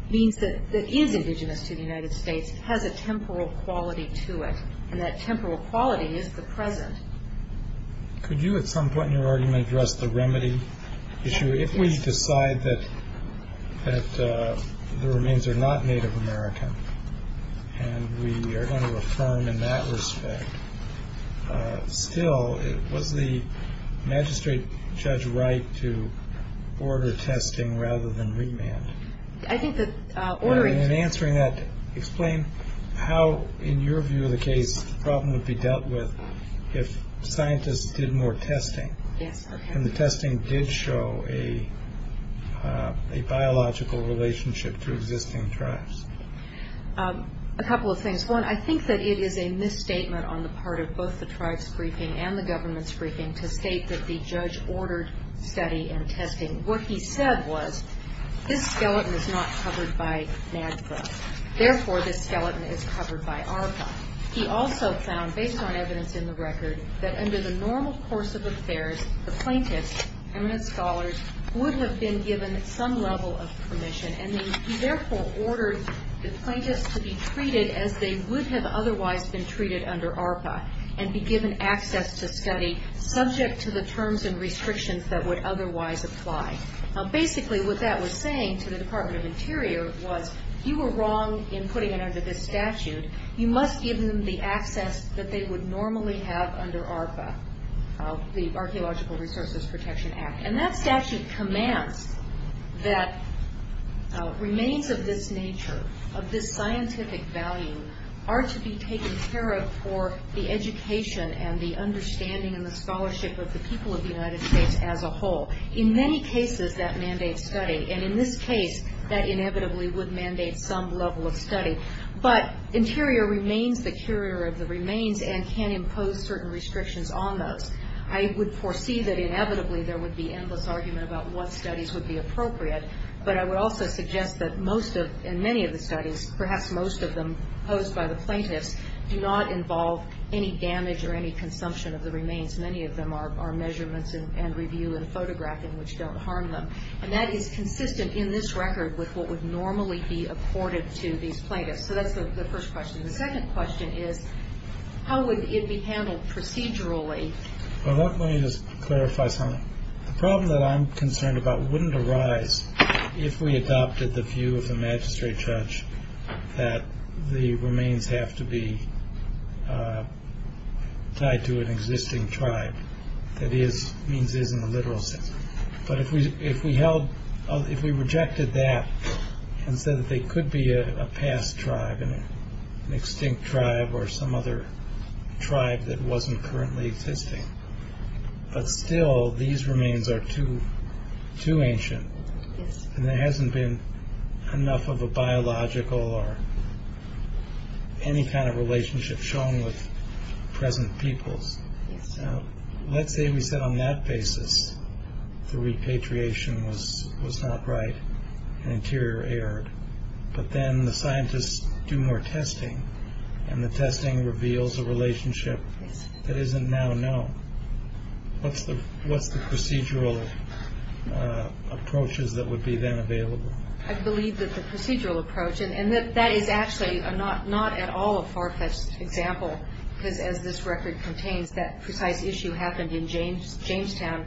means that it is indigenous to the United States. It has a temporal quality to it, and that temporal quality is the present. Could you at some point in your argument address the remedy issue? If we decide that the remains are not Native American and we are going to affirm in that respect, still, was the magistrate judge right to order testing rather than remand? I think that ordering. In answering that, explain how, in your view of the case, the problem would be dealt with if scientists did more testing. Yes, okay. And the testing did show a biological relationship to existing tribes. A couple of things. One, I think that it is a misstatement on the part of both the tribes' briefing and the government's briefing to state that the judge ordered study and testing. What he said was, this skeleton is not covered by NADFA. Therefore, this skeleton is covered by ARPA. He also found, based on evidence in the record, that under the normal course of affairs, the plaintiffs, eminent scholars, would have been given some level of permission, and he therefore ordered the plaintiffs to be treated as they would have otherwise been treated under ARPA and be given access to study subject to the terms and restrictions that would otherwise apply. Now, basically what that was saying to the Department of Interior was, you were wrong in putting it under this statute. You must give them the access that they would normally have under ARPA, the Archaeological Resources Protection Act. And that statute commands that remains of this nature, of this scientific value, are to be taken care of for the education and the understanding and the scholarship of the people of the United States as a whole. In many cases, that mandates study. But Interior remains the curator of the remains and can impose certain restrictions on those. I would foresee that inevitably there would be endless argument about what studies would be appropriate, but I would also suggest that most of, in many of the studies, perhaps most of them posed by the plaintiffs, do not involve any damage or any consumption of the remains. Many of them are measurements and review and photographing which don't harm them. And that is consistent in this record with what would normally be accorded to these plaintiffs. So that's the first question. The second question is, how would it be handled procedurally? Well, let me just clarify something. The problem that I'm concerned about wouldn't arise if we adopted the view of the magistrate judge that the remains have to be tied to an existing tribe. That is, means is in the literal sense. But if we held, if we rejected that and said that they could be a past tribe, an extinct tribe or some other tribe that wasn't currently existing, but still these remains are too ancient and there hasn't been enough of a biological or any kind of relationship shown with present peoples. So let's say we said on that basis the repatriation was not right and interior erred. But then the scientists do more testing and the testing reveals a relationship that isn't now known. What's the procedural approaches that would be then available? I believe that the procedural approach, and that is actually not at all a far-fetched example because as this record contains, that precise issue happened in Jamestown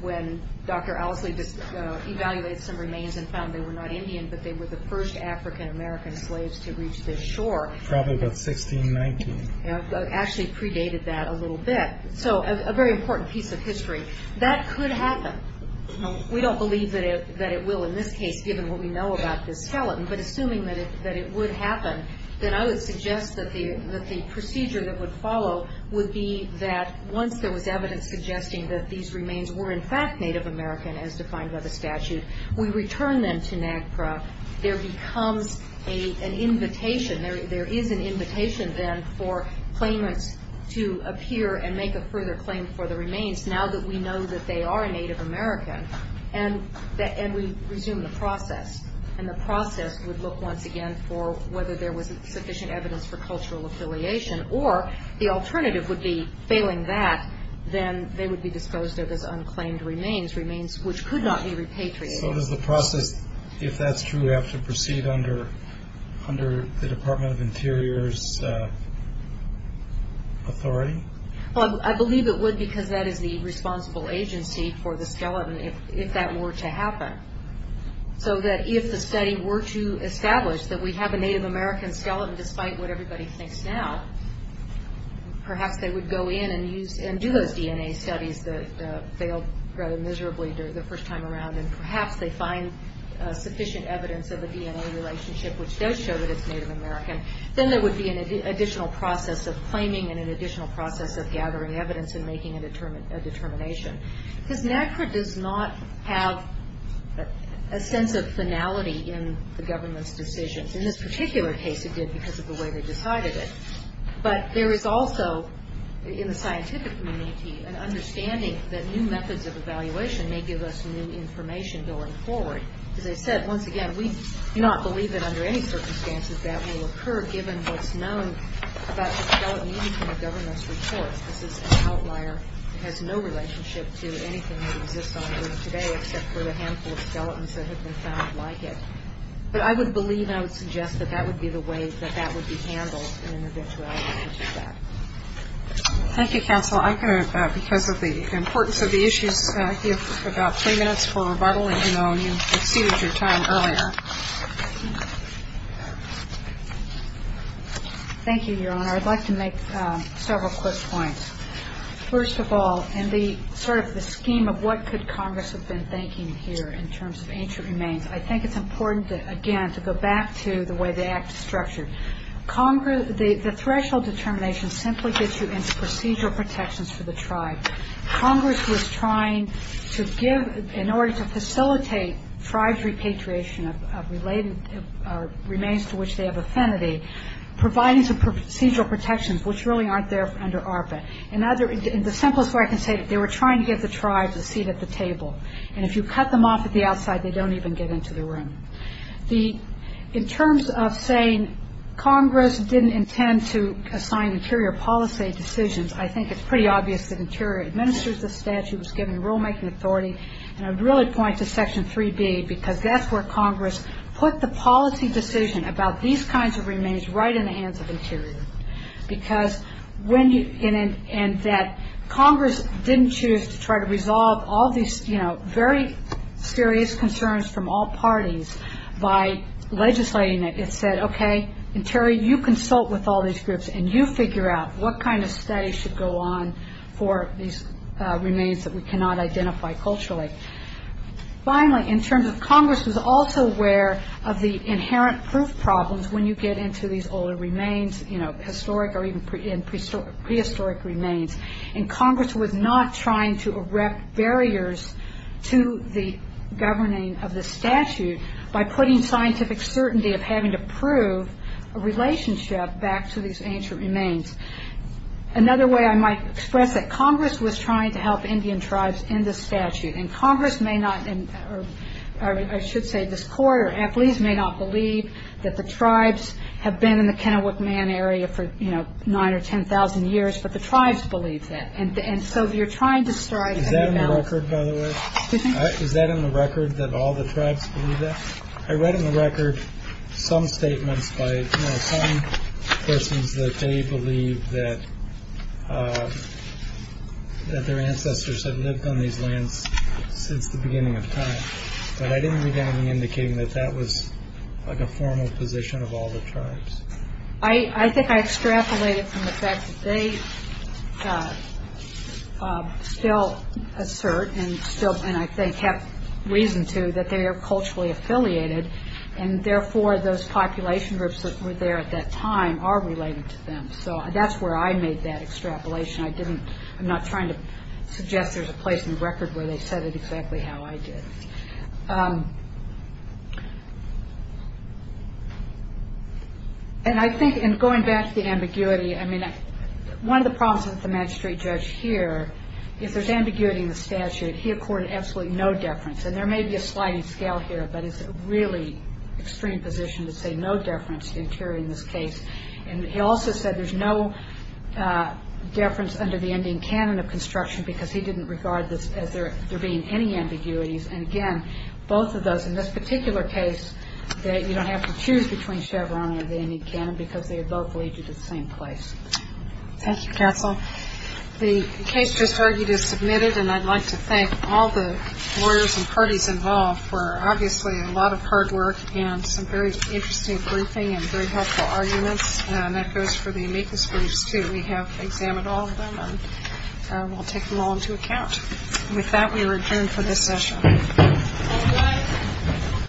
when Dr. Owsley just evaluated some remains and found they were not Indian, but they were the first African-American slaves to reach this shore. Probably about 1619. Actually predated that a little bit. So a very important piece of history. That could happen. We don't believe that it will in this case, given what we know about this skeleton. But assuming that it would happen, then I would suggest that the procedure that would follow would be that once there was evidence suggesting that these remains were in fact Native American, as defined by the statute, we return them to NAGPRA. There becomes an invitation, there is an invitation then for claimants to appear and make a further claim for the remains now that we know that they are Native American. And we resume the process. And the process would look once again for whether there was sufficient evidence for cultural affiliation or the alternative would be failing that, then they would be disposed of as unclaimed remains, remains which could not be repatriated. So does the process, if that's true, have to proceed under the Department of Interior's authority? Well, I believe it would because that is the responsible agency for the skeleton if that were to happen. So that if the study were to establish that we have a Native American skeleton, despite what everybody thinks now, perhaps they would go in and do those DNA studies that failed rather miserably the first time around and perhaps they find sufficient evidence of a DNA relationship which does show that it's Native American. Then there would be an additional process of claiming and an additional process of gathering evidence and making a determination. Because NAGPRA does not have a sense of finality in the government's decisions. In this particular case, it did because of the way they decided it. But there is also, in the scientific community, an understanding that new methods of evaluation may give us new information going forward. As I said, once again, we do not believe that under any circumstances that will occur given what's known about the skeleton used in the government's reports. It has no relationship to anything that exists on Earth today except for the handful of skeletons that have been found like it. But I would believe and I would suggest that that would be the way that that would be handled in an eventuality. Thank you, Counsel. I'm going to, because of the importance of the issues, give about three minutes for rebuttal. I know you exceeded your time earlier. Thank you, Your Honor. I'd like to make several quick points. First of all, in the sort of the scheme of what could Congress have been thinking here in terms of ancient remains, I think it's important, again, to go back to the way the act is structured. The threshold determination simply gets you into procedural protections for the tribe. Congress was trying to give, in order to facilitate tribes' repatriation of related remains to which they have affinity, providing some procedural protections which really aren't there under ARPA. And the simplest way I can say it, they were trying to give the tribes a seat at the table. And if you cut them off at the outside, they don't even get into the room. In terms of saying Congress didn't intend to assign interior policy decisions, I think it's pretty obvious that interior administers the statute, was given rulemaking authority. And I'd really point to Section 3B because that's where Congress put the policy decision about these kinds of remains right in the hands of interior. And that Congress didn't choose to try to resolve all these very serious concerns from all parties by legislating it. It said, OK, interior, you consult with all these groups, and you figure out what kind of study should go on for these remains that we cannot identify culturally. Finally, in terms of Congress was also aware of the inherent proof problems when you get into these older remains, historic or even prehistoric remains. And Congress was not trying to erect barriers to the governing of the statute by putting scientific certainty of having to prove a relationship back to these ancient remains. Another way I might express it, Congress was trying to help Indian tribes in the statute. And Congress may not, or I should say this court or athletes, may not believe that the tribes have been in the Kennewick Man area for, you know, nine or ten thousand years. But the tribes believe that. And so you're trying to start. Is that in the record, by the way? Is that in the record that all the tribes believe that? I read in the record some statements by some persons that they believe that their ancestors had lived on these lands since the beginning of time. But I didn't read anything indicating that that was like a formal position of all the tribes. I think I extrapolated from the fact that they still assert and still, and I think have reason to, that they are culturally affiliated and therefore those population groups that were there at that time are related to them. So that's where I made that extrapolation. I didn't, I'm not trying to suggest there's a place in the record where they said it exactly how I did. And I think in going back to the ambiguity, I mean, one of the problems with the magistrate judge here, if there's ambiguity in the statute, he accorded absolutely no deference. And there may be a sliding scale here, but it's a really extreme position to say no deference to interior in this case. And he also said there's no deference under the Indian canon of construction because he didn't regard this as there being any ambiguities. And again, both of those, in this particular case, you don't have to choose between Chevron or the Indian canon because they both lead you to the same place. Thank you, Counsel. The case just heard you to submit it, and I'd like to thank all the lawyers and parties involved for obviously a lot of hard work and some very interesting briefing and very helpful arguments. And that goes for the amicus briefs, too. We have examined all of them, and we'll take them all into account. And with that, we return for this session. All rise.